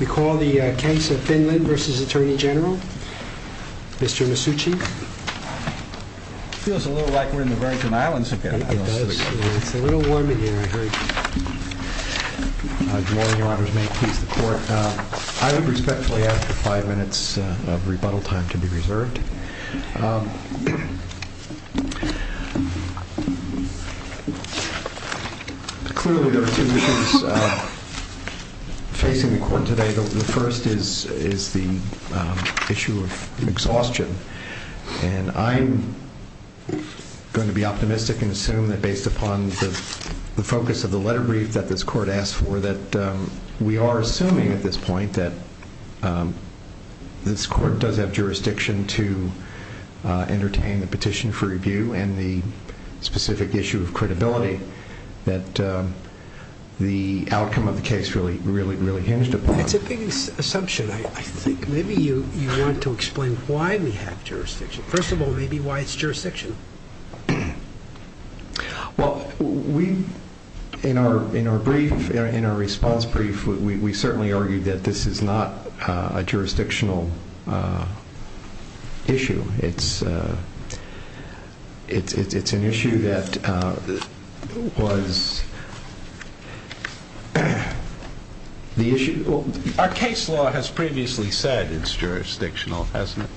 We call the case of Fin Lin v. Attorney General, Mr. Masucci. It feels a little like we're in the Virgin Islands again. It does. It's a little warm in here, I heard. Good morning, your honors. May it please the court. I would respectfully ask for five minutes of rebuttal time to be reserved. Clearly there are two issues facing the court today. The first is the issue of exhaustion. And I'm going to be optimistic and assume that based upon the focus of the letter brief that this court asked for, we are assuming at this point that this court does have jurisdiction to entertain the petition for review and the specific issue of credibility that the outcome of the case really hinged upon. It's a big assumption. I think maybe you want to explain why we have jurisdiction. First of all, maybe why it's jurisdiction. Well, in our response brief, we certainly argued that this is not a jurisdictional issue. It's an issue that was the issue. Our case law has previously said it's jurisdictional, hasn't it?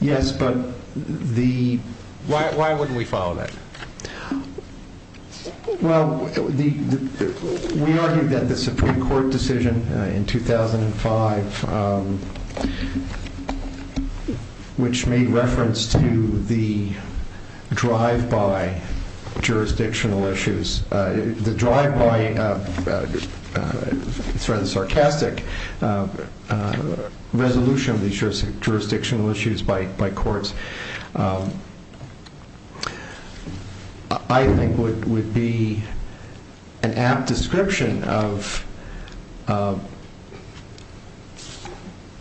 Yes, but the... Why wouldn't we follow that? Well, we argued that the Supreme Court decision in 2005, which made reference to the drive-by jurisdictional issues, the drive-by, it's rather sarcastic, resolution of these jurisdictional issues by courts, I think would be an apt description of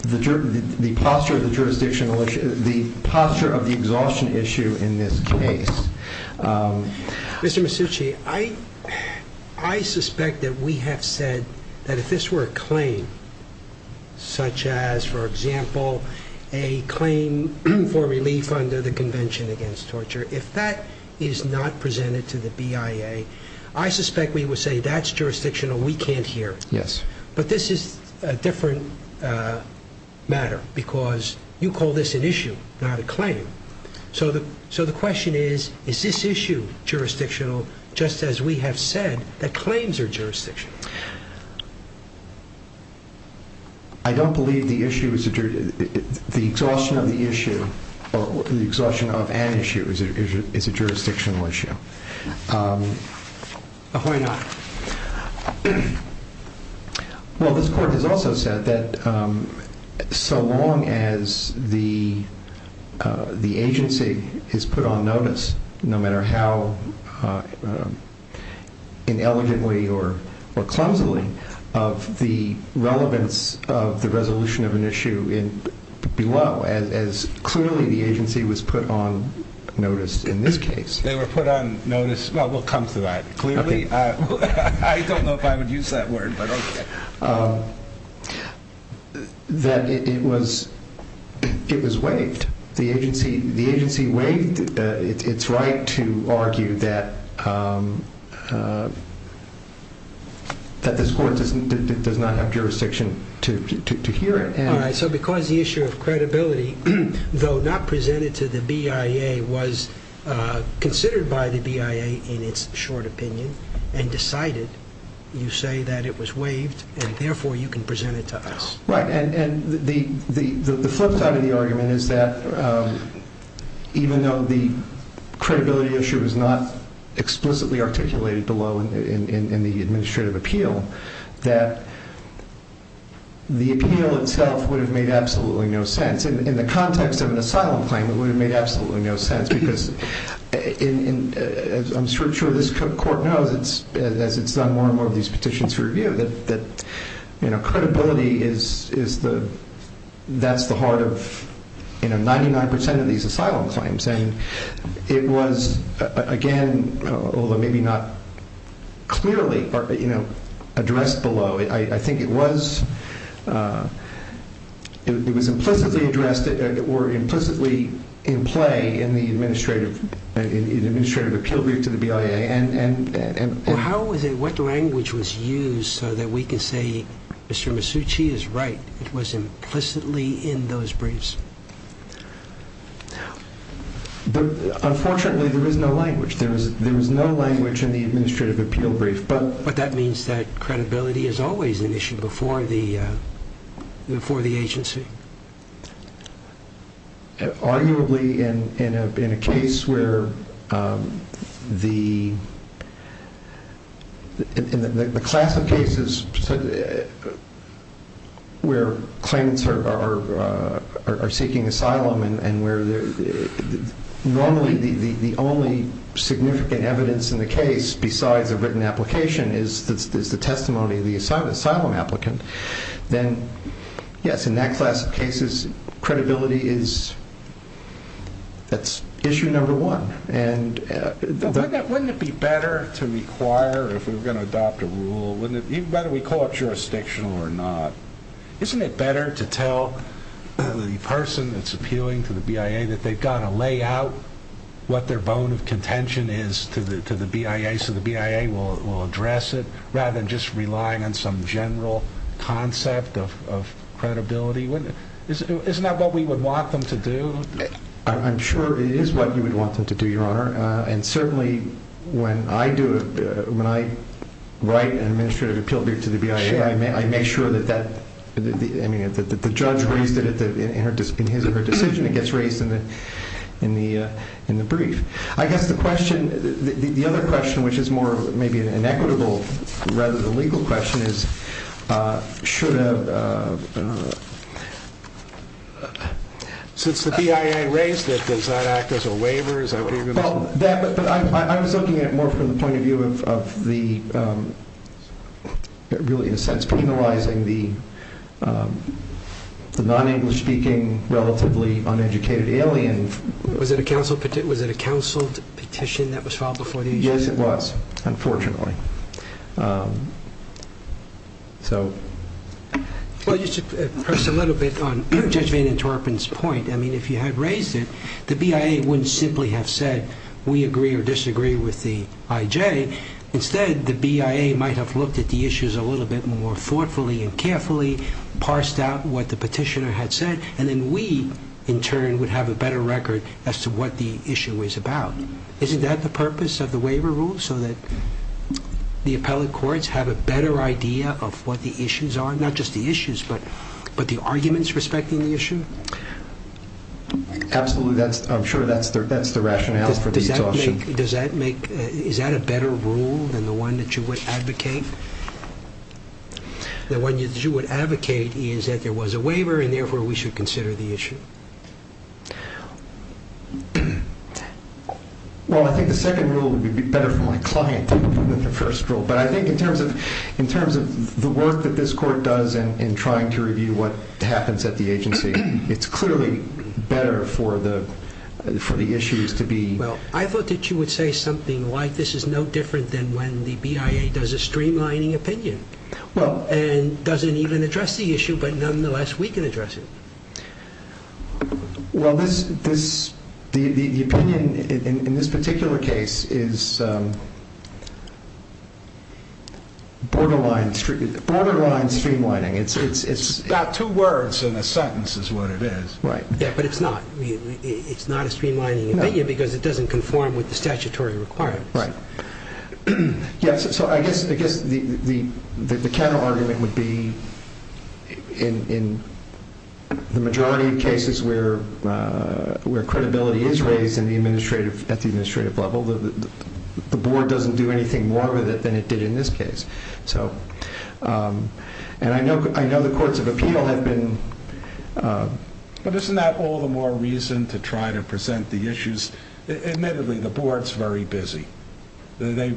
the posture of the jurisdictional issue, the posture of the exhaustion issue in this case. Mr. Masucci, I suspect that we have said that if this were a claim, such as, for example, a claim for relief under the Convention Against Torture, if that is not presented to the BIA, I suspect we would say that's jurisdictional, we can't hear it. Yes. But this is a different matter because you call this an issue, not a claim. So the question is, is this issue jurisdictional, just as we have said that claims are jurisdictional? I don't believe the issue is... the exhaustion of the issue, the exhaustion of an issue is a jurisdictional issue. Why not? Well, this Court has also said that so long as the agency has put on notice, no matter how ineligently or clumsily, of the relevance of the resolution of an issue below, as clearly the agency was put on notice in this case... Well, they were put on notice... well, we'll come to that, clearly. I don't know if I would use that word, but okay. That it was waived. The agency waived its right to argue that this Court does not have jurisdiction to hear it. All right, so because the issue of credibility, though not presented to the BIA, was considered by the BIA in its short opinion and decided, you say that it was waived, and therefore you can present it to us. Right, and the flip side of the argument is that even though the credibility issue is not explicitly articulated below in the administrative appeal, that the appeal itself would have made absolutely no sense. In the context of an asylum claim, it would have made absolutely no sense because, as I'm sure this Court knows as it's done more and more of these petitions for review, that credibility, that's the heart of 99% of these asylum claims. It was, again, although maybe not clearly addressed below, I think it was implicitly addressed or implicitly in play in the administrative appeal brief to the BIA. Well, what language was used so that we can say Mr. Masucci is right, it was implicitly in those briefs? Unfortunately, there was no language. There was no language in the administrative appeal brief. But that means that credibility is always an issue before the agency? Arguably, in a case where claims are seeking asylum, and normally the only significant evidence in the case besides a written application is the testimony of the asylum applicant, then yes, in that class of cases, credibility is issue number one. Wouldn't it be better to require, if we were going to adopt a rule, even better we call it jurisdictional or not, isn't it better to tell the person that's appealing to the BIA that they've got to lay out what their bone of contention is to the BIA so the BIA will address it rather than just relying on some general concept of credibility? Isn't that what we would want them to do? I'm sure it is what you would want them to do, Your Honor. And certainly when I write an administrative appeal brief to the BIA, I make sure that the judge raised it in her decision and it gets raised in the brief. I guess the other question, which is more maybe an equitable rather than legal question, is should a... Since the BIA raised it, does that act as a waiver? I was looking at it more from the point of view of really in a sense penalizing the non-English speaking, relatively uneducated alien. Was it a counsel petition that was filed before the issue? Yes, it was, unfortunately. Well, you should press a little bit on Judge Van Interpen's point. I mean, if you had raised it, the BIA wouldn't simply have said we agree or disagree with the IJ. Instead, the BIA might have looked at the issues a little bit more thoughtfully and carefully, parsed out what the petitioner had said, and then we, in turn, would have a better record as to what the issue is about. Isn't that the purpose of the waiver rule? So that the appellate courts have a better idea of what the issues are? Not just the issues, but the arguments respecting the issue? Absolutely. I'm sure that's the rationale for the adoption. Is that a better rule than the one that you would advocate? The one that you would advocate is that there was a waiver, and therefore we should consider the issue. Well, I think the second rule would be better for my client than the first rule. But I think in terms of the work that this court does in trying to review what happens at the agency, it's clearly better for the issues to be... Well, I thought that you would say something like this is no different than when the BIA does a streamlining opinion and doesn't even address the issue, but nonetheless we can address it. Well, the opinion in this particular case is borderline streamlining. It's about two words, and a sentence is what it is. But it's not. It's not a streamlining opinion because it doesn't conform with the statutory requirements. So I guess the counterargument would be in the majority of cases where credibility is raised at the administrative level, the board doesn't do anything more with it than it did in this case. And I know the courts of appeal have been... But isn't that all the more reason to try to present the issues? Admittedly, the board's very busy. They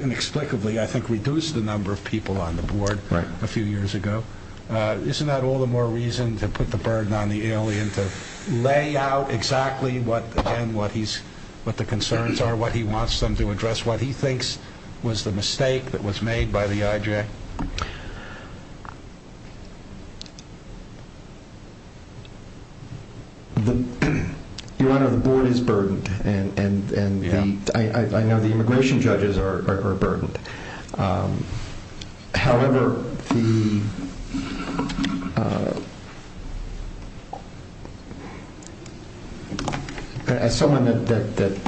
inexplicably, I think, reduced the number of people on the board a few years ago. Isn't that all the more reason to put the burden on the alien to lay out exactly what the concerns are, what he wants them to address, what he thinks was the mistake that was made by the IJ? Your Honor, the board is burdened, and I know the immigration judges are burdened. However, as someone that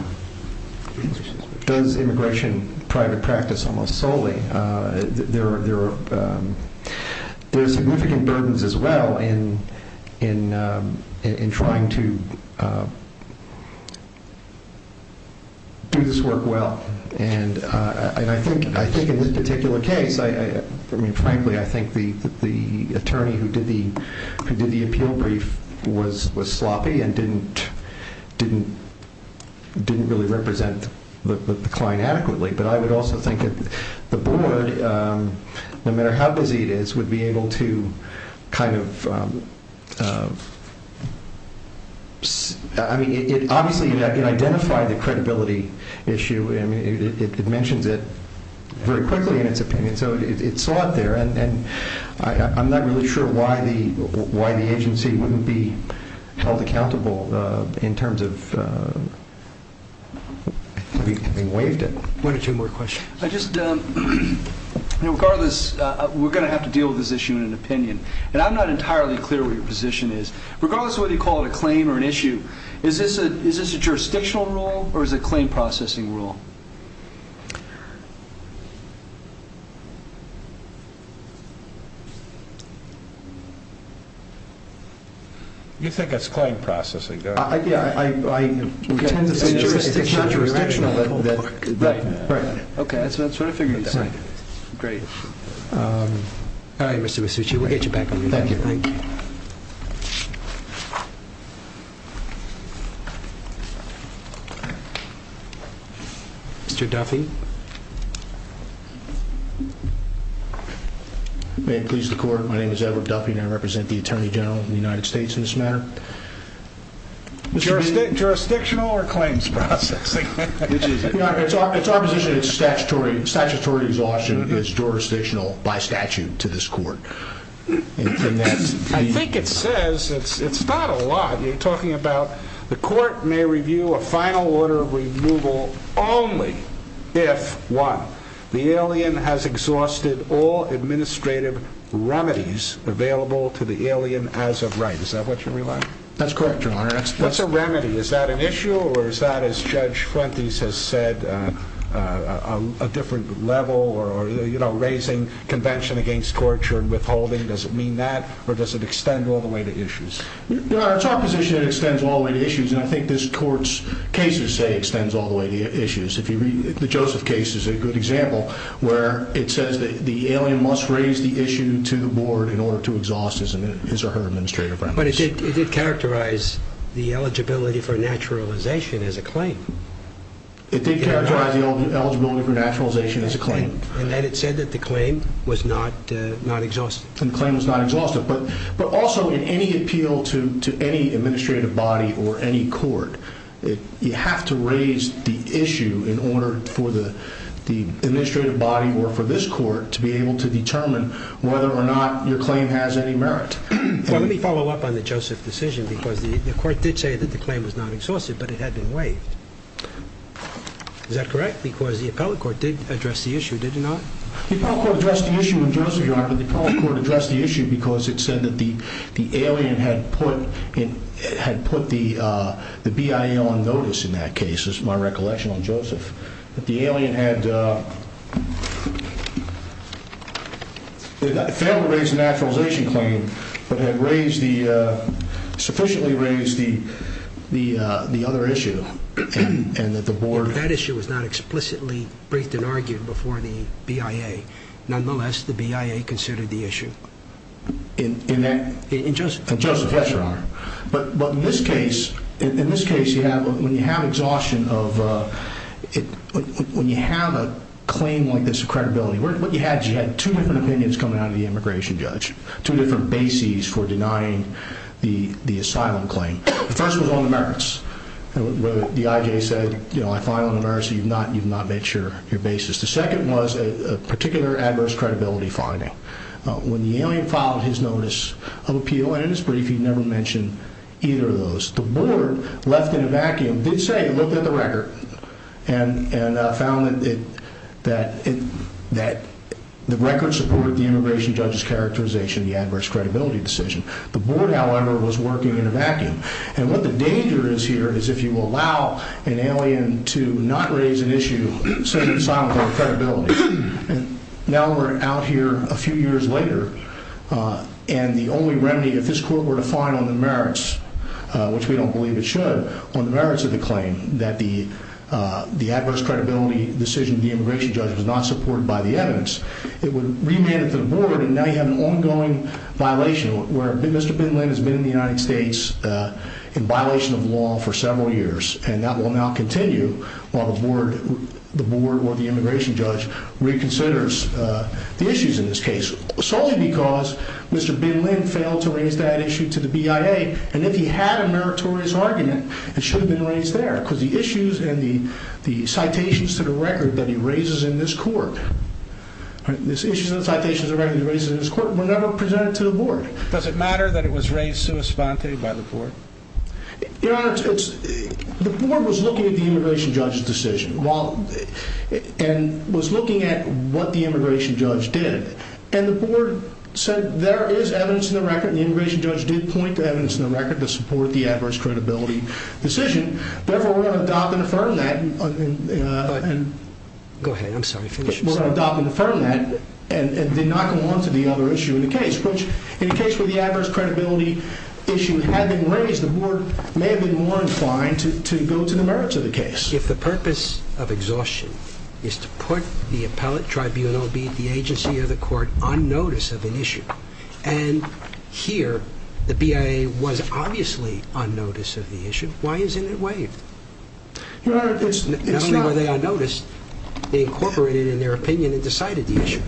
does immigration private practice almost solely, there are significant burdens as well in trying to do this work well. And I think in this particular case, frankly, I think the attorney who did the appeal brief was sloppy and didn't really represent the client adequately. But I would also think that the board, no matter how busy it is, would be able to kind of... I mean, obviously, it identified the credibility issue. I mean, it mentions it very quickly in its opinion, so it saw it there. And I'm not really sure why the agency wouldn't be held accountable in terms of having waived it. One or two more questions. I just... Regardless, we're going to have to deal with this issue in an opinion. And I'm not entirely clear what your position is. Regardless of whether you call it a claim or an issue, is this a jurisdictional rule or is it a claim processing rule? You think it's claim processing, don't you? Yeah, I tend to think it's jurisdictional. It's not jurisdictional. Right, right. Okay, that's what I figured you'd say. Great. All right, Mr. Musucci, we'll get you back on your feet. Thank you. Mr. Duffy. May it please the court, my name is Edward Duffy and I represent the Attorney General of the United States in this matter. Jurisdictional or claims processing? Which is it? Your Honor, it's our position that statutory exhaustion is jurisdictional by statute to this court. I think it says, it's not a lot, you're talking about the court may review a final order of removal only if, one, the alien has exhausted all administrative remedies available to the alien as of right. Is that what you're relying on? That's correct, Your Honor. What's a remedy? Is that an issue or is that, as Judge Fuentes has said, a different level or raising convention against torture and withholding? Does it mean that or does it extend all the way to issues? Your Honor, it's our position it extends all the way to issues and I think this court's cases say it extends all the way to issues. The Joseph case is a good example where it says the alien must raise the issue to the board in order to exhaust his or her administrative remedies. But it did characterize the eligibility for naturalization as a claim. It did characterize the eligibility for naturalization as a claim. And then it said that the claim was not exhausted. And the claim was not exhausted. But also in any appeal to any administrative body or any court, you have to raise the issue in order for the administrative body or for this court to be able to determine whether or not your claim has any merit. Well, let me follow up on the Joseph decision because the court did say that the claim was not exhausted but it had been waived. Is that correct? Because the appellate court did address the issue, did it not? The appellate court addressed the issue in Joseph, Your Honor, but the appellate court addressed the issue because it said that the alien had put the BIA on notice in that case. This is my recollection on Joseph. That the alien had failed to raise the naturalization claim but had sufficiently raised the other issue and that the board— That issue was not explicitly briefed and argued before the BIA. Nonetheless, the BIA considered the issue. In that— In Joseph. In Joseph, yes, Your Honor. But in this case, when you have exhaustion of— when you have a claim like this of credibility, what you had is you had two different opinions coming out of the immigration judge, two different bases for denying the asylum claim. The first was on the merits. The IJ said, you know, I file on a merit so you've not met your basis. The second was a particular adverse credibility finding. When the alien filed his notice of appeal, and in his brief he never mentioned either of those, the board, left in a vacuum, did say it looked at the record and found that the record supported the immigration judge's characterization, the adverse credibility decision. The board, however, was working in a vacuum. And what the danger is here is if you allow an alien to not raise an issue, say the asylum claim credibility. Now we're out here a few years later, and the only remedy, if this court were to find on the merits, which we don't believe it should, but on the merits of the claim that the adverse credibility decision of the immigration judge was not supported by the evidence, it would remand it to the board, and now you have an ongoing violation where Mr. Bin Linn has been in the United States in violation of law for several years. And that will now continue while the board or the immigration judge reconsiders the issues in this case, solely because Mr. Bin Linn failed to raise that issue to the BIA. And if he had a meritorious argument, it should have been raised there because the issues and the citations to the record that he raises in this court were never presented to the board. Does it matter that it was raised sua sponte by the board? Your Honor, the board was looking at the immigration judge's decision and was looking at what the immigration judge did, and the board said there is evidence in the record and the immigration judge did point to evidence in the record to support the adverse credibility decision. Therefore, we're going to adopt and affirm that and did not go on to the other issue in the case, which in the case where the adverse credibility issue had been raised, the board may have been more inclined to go to the merits of the case. If the purpose of exhaustion is to put the appellate tribunal, be it the agency or the court, on notice of an issue and here the BIA was obviously on notice of the issue, why isn't it waived? Your Honor, it's not... Not only were they on notice, they incorporated in their opinion and decided the issue.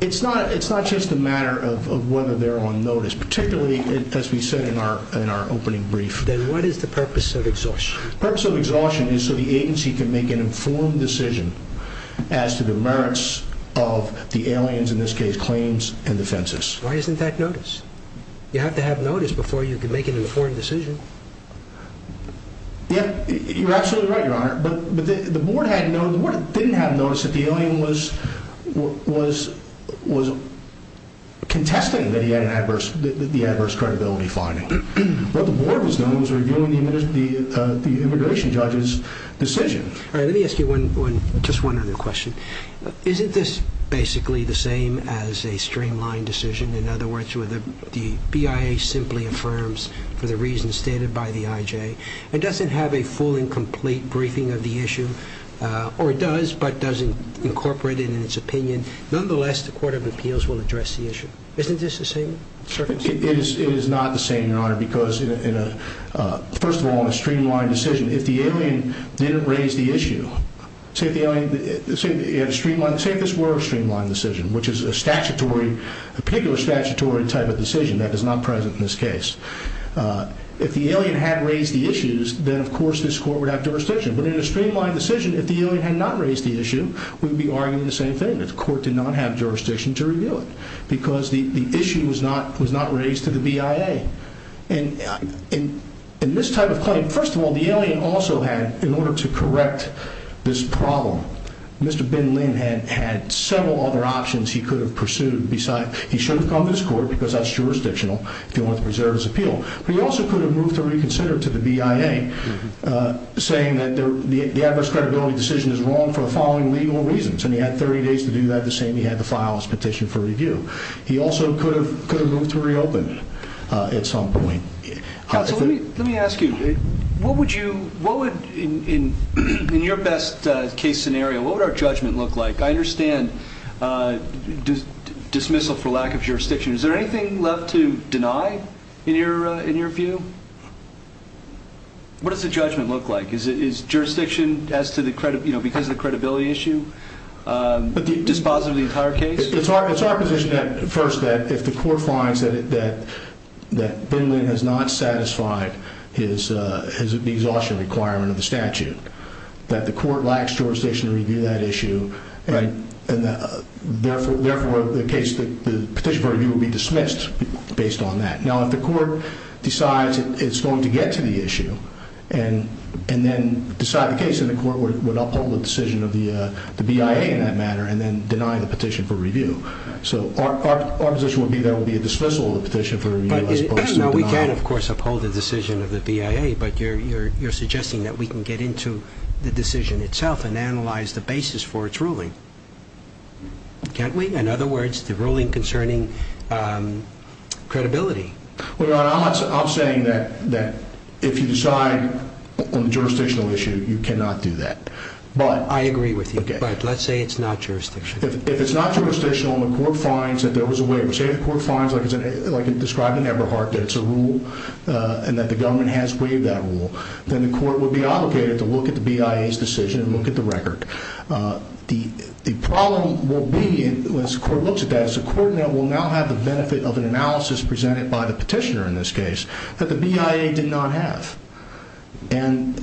It's not just a matter of whether they're on notice, particularly as we said in our opening brief. Then what is the purpose of exhaustion? The purpose of exhaustion is so the agency can make an informed decision as to the merits of the aliens, in this case, claims and defenses. Why isn't that notice? You have to have notice before you can make an informed decision. You're absolutely right, Your Honor, but the board didn't have notice that the alien was contesting the adverse credibility finding. What the board was doing was reviewing the immigration judge's decision. All right, let me ask you just one other question. Isn't this basically the same as a streamlined decision? In other words, where the BIA simply affirms for the reasons stated by the IJ and doesn't have a full and complete briefing of the issue, or it does but doesn't incorporate it in its opinion. Nonetheless, the Court of Appeals will address the issue. Isn't this the same circumstance? It is not the same, Your Honor, because first of all, in a streamlined decision, if the alien didn't raise the issue, say if this were a streamlined decision, which is a particular statutory type of decision that is not present in this case, if the alien had raised the issues, then, of course, this court would have jurisdiction. But in a streamlined decision, if the alien had not raised the issue, we would be arguing the same thing, that the court did not have jurisdiction to review it because the issue was not raised to the BIA. In this type of claim, first of all, the alien also had, in order to correct this problem, Mr. Ben Lin had several other options he could have pursued. He should have come to this court because that's jurisdictional if he wanted to preserve his appeal. But he also could have moved to reconsider to the BIA, saying that the adverse credibility decision is wrong for the following legal reasons, and he had 30 days to do that, the same he had to file his petition for review. He also could have moved to reopen it at some point. Let me ask you, in your best case scenario, what would our judgment look like? I understand dismissal for lack of jurisdiction. Is there anything left to deny in your view? What does the judgment look like? Is jurisdiction, because of the credibility issue, dispositive of the entire case? It's our position, first, that if the court finds that Ben Lin has not satisfied his exhaustion requirement of the statute, that the court lacks jurisdiction to review that issue, and therefore the petition for review would be dismissed based on that. Now, if the court decides it's going to get to the issue and then decide the case, then the court would uphold the decision of the BIA in that matter and then deny the petition for review. So our position would be there would be a dismissal of the petition for review as opposed to a denial. Now, we can, of course, uphold the decision of the BIA, but you're suggesting that we can get into the decision itself and analyze the basis for its ruling, can't we? In other words, the ruling concerning credibility. Well, Your Honor, I'm saying that if you decide on the jurisdictional issue, you cannot do that. I agree with you, but let's say it's not jurisdictional. If it's not jurisdictional and the court finds that there was a waiver, say the court finds, like described in Eberhardt, that it's a rule and that the government has waived that rule, then the court would be obligated to look at the BIA's decision and look at the record. The problem will be, as the court looks at that, is the court will now have the benefit of an analysis presented by the petitioner in this case that the BIA did not have. And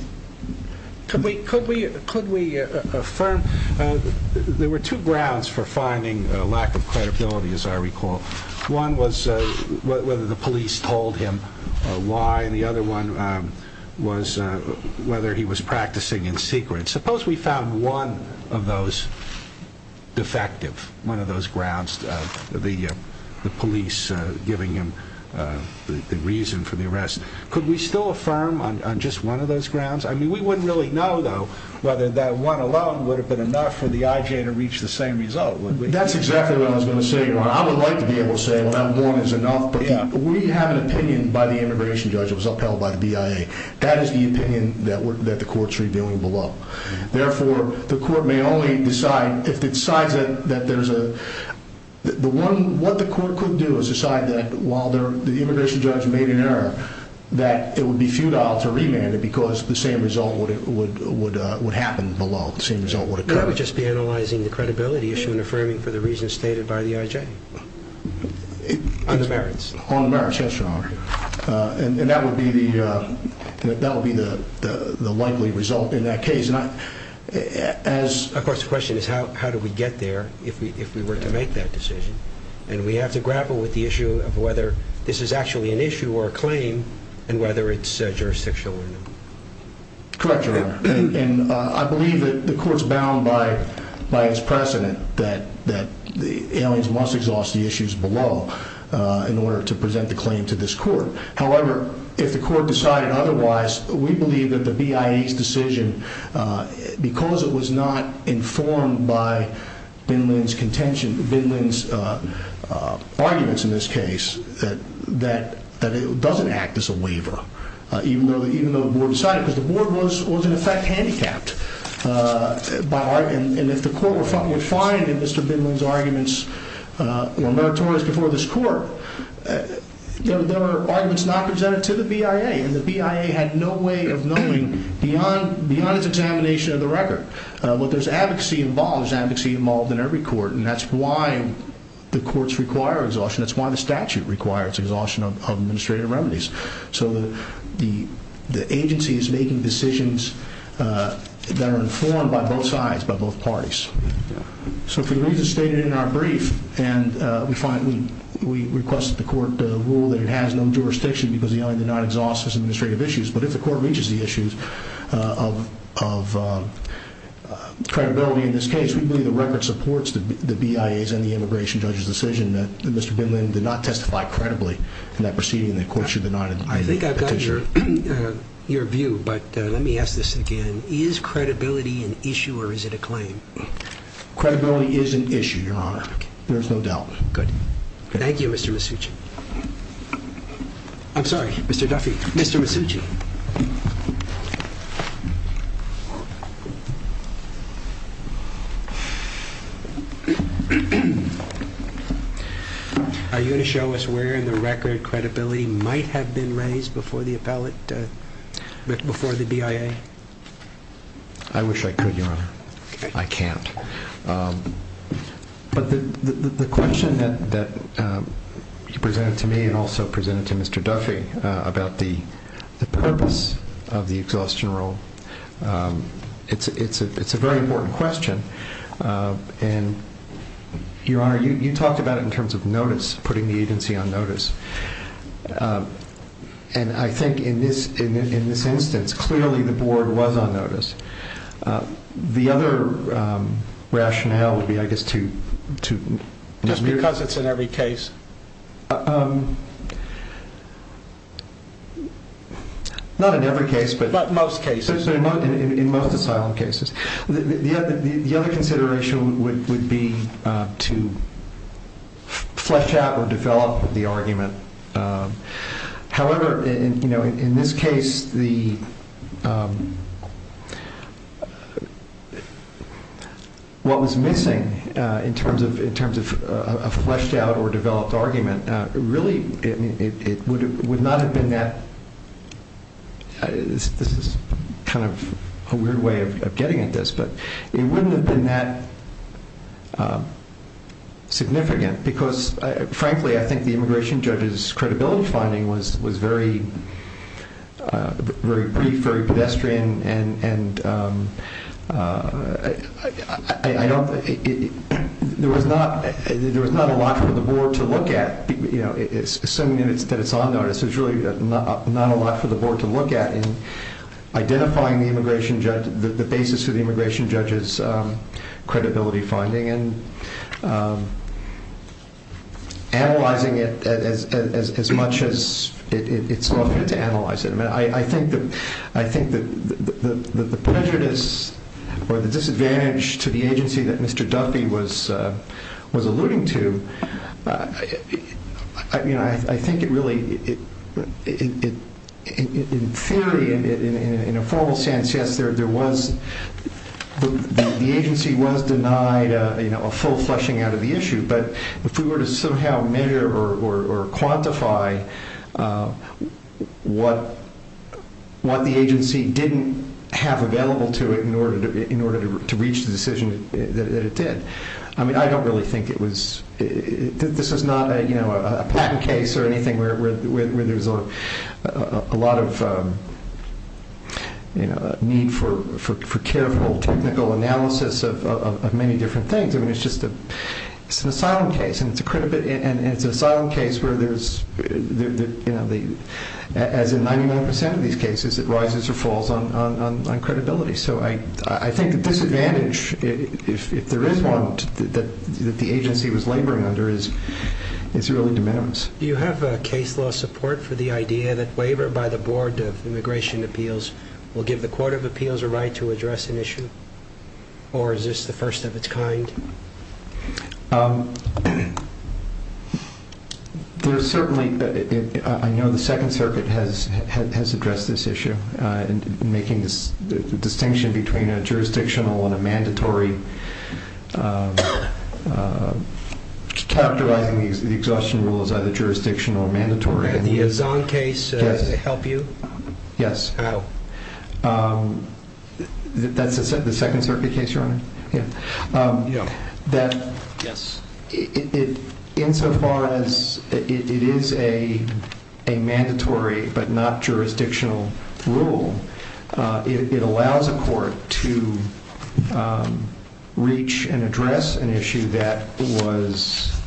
could we affirm? There were two grounds for finding lack of credibility, as I recall. One was whether the police told him why, and the other one was whether he was practicing in secret. Suppose we found one of those defective, one of those grounds, the police giving him the reason for the arrest. Could we still affirm on just one of those grounds? I mean, we wouldn't really know, though, whether that one alone would have been enough for the IJ to reach the same result, would we? That's exactly what I was going to say, Ron. I would like to be able to say, well, that one is enough. But we have an opinion by the immigration judge that was upheld by the BIA. That is the opinion that the court's reviewing below. Therefore, the court may only decide, if it decides that there's a, the one, what the court could do is decide that while the immigration judge made an error, that it would be futile to remand it because the same result would happen below. The same result would occur. That would just be analyzing the credibility issue and affirming for the reasons stated by the IJ. On the merits. On the merits, yes, Your Honor. And that would be the likely result in that case. Of course, the question is how do we get there if we were to make that decision? And we have to grapple with the issue of whether this is actually an issue or a claim and whether it's jurisdictional or not. Correct, Your Honor. And I believe that the court's bound by its precedent that the aliens must exhaust the issues below in order to present the claim to this court. However, if the court decided otherwise, we believe that the BIA's decision, because it was not informed by Vinland's contention, Vinland's arguments in this case, that it doesn't act as a waiver. Even though the board decided, because the board was in effect handicapped. And if the court would find in Mr. Vinland's arguments or meritorious before this court, there are arguments not presented to the BIA, and the BIA had no way of knowing beyond its examination of the record. But there's advocacy involved. There's advocacy involved in every court, and that's why the courts require exhaustion. That's why the statute requires exhaustion of administrative remedies. So the agency is making decisions that are informed by both sides, by both parties. So for the reasons stated in our brief, and we request that the court rule that it has no jurisdiction because the alien did not exhaust its administrative issues. But if the court reaches the issues of credibility in this case, we believe the record supports the BIA's and the immigration judge's decision that Mr. Vinland did not testify credibly in that proceeding. The court should deny the petition. I think I've got your view, but let me ask this again. Is credibility an issue or is it a claim? Credibility is an issue, Your Honor. There's no doubt. Good. Thank you, Mr. Masucci. I'm sorry, Mr. Duffy. Mr. Masucci. Are you going to show us where in the record credibility might have been raised before the appellate, before the BIA? I wish I could, Your Honor. I can't. But the question that you presented to me and also presented to Mr. Duffy about the purpose of the exhaustion rule, it's a very important question. And, Your Honor, you talked about it in terms of notice, putting the agency on notice. And I think in this instance, clearly the board was on notice. The other rationale would be, I guess, to – Just because it's in every case? Not in every case, but – But most cases. In most asylum cases. The other consideration would be to flesh out or develop the argument. However, in this case, what was missing in terms of a fleshed out or developed argument, really it would not have been that – this is kind of a weird way of getting at this, but it wouldn't have been that significant. Because, frankly, I think the immigration judge's credibility finding was very brief, very pedestrian. And I don't – there was not a lot for the board to look at. Assuming that it's on notice, there's really not a lot for the board to look at in identifying the immigration judge – the basis for the immigration judge's credibility finding. And analyzing it as much as it's worth to analyze it. I think that the prejudice or the disadvantage to the agency that Mr. Duffy was alluding to, I think it really – in theory, in a formal sense, yes, there was – a full fleshing out of the issue. But if we were to somehow measure or quantify what the agency didn't have available to it in order to reach the decision that it did, I don't really think it was – this is not a patent case or anything where there's a lot of need for careful technical analysis of many different things. I mean, it's just a – it's an asylum case, and it's a – and it's an asylum case where there's – as in 99 percent of these cases, it rises or falls on credibility. So I think the disadvantage, if there is one, that the agency was laboring under is really de minimis. Do you have case law support for the idea that waiver by the Board of Immigration Appeals will give the Court of Appeals a right to address an issue? Or is this the first of its kind? There's certainly – I know the Second Circuit has addressed this issue, in making this distinction between a jurisdictional and a mandatory – characterizing the exhaustion rule as either jurisdictional or mandatory. And the Azzon case, does it help you? Yes. How? That's the Second Circuit case you're on? Yeah. That – Yes. Insofar as it is a mandatory but not jurisdictional rule, it allows a court to reach and address an issue that was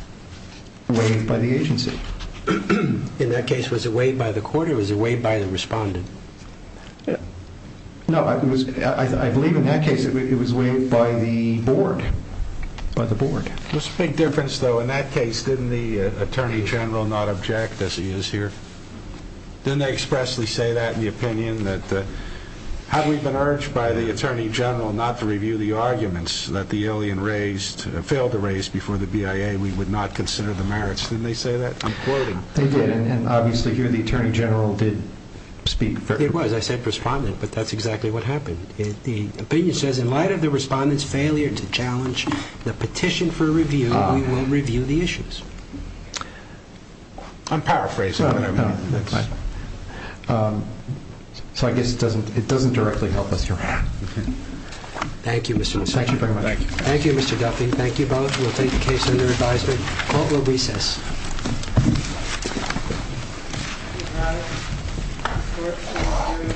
waived by the agency. In that case, was it waived by the court, or was it waived by the respondent? No, I believe in that case it was waived by the Board. By the Board. There's a big difference, though. In that case, didn't the Attorney General not object, as he is here? Didn't they expressly say that in the opinion? That, had we been urged by the Attorney General not to review the arguments that the alien raised – failed to raise before the BIA, we would not consider the merits. Didn't they say that? I'm quoting. They did, and obviously here the Attorney General did speak. It was. I said respondent, but that's exactly what happened. The opinion says, in light of the respondent's failure to challenge the petition for review, we will review the issues. I'm paraphrasing. No, no, no. So I guess it doesn't directly help us here. Thank you, Mr. Guffey. Thank you very much. Thank you. Thank you, Mr. Guffey. Thank you both. We'll take the case under advisement. Court will recess. The case is now in court. The court is adjourned until Tuesday, March 18th at 2 p.m. All right. Yeah. Have a good weekend. You too. Good luck with the law. Well, thanks. That's a nice treat. Yeah. We don't get to do it a lot.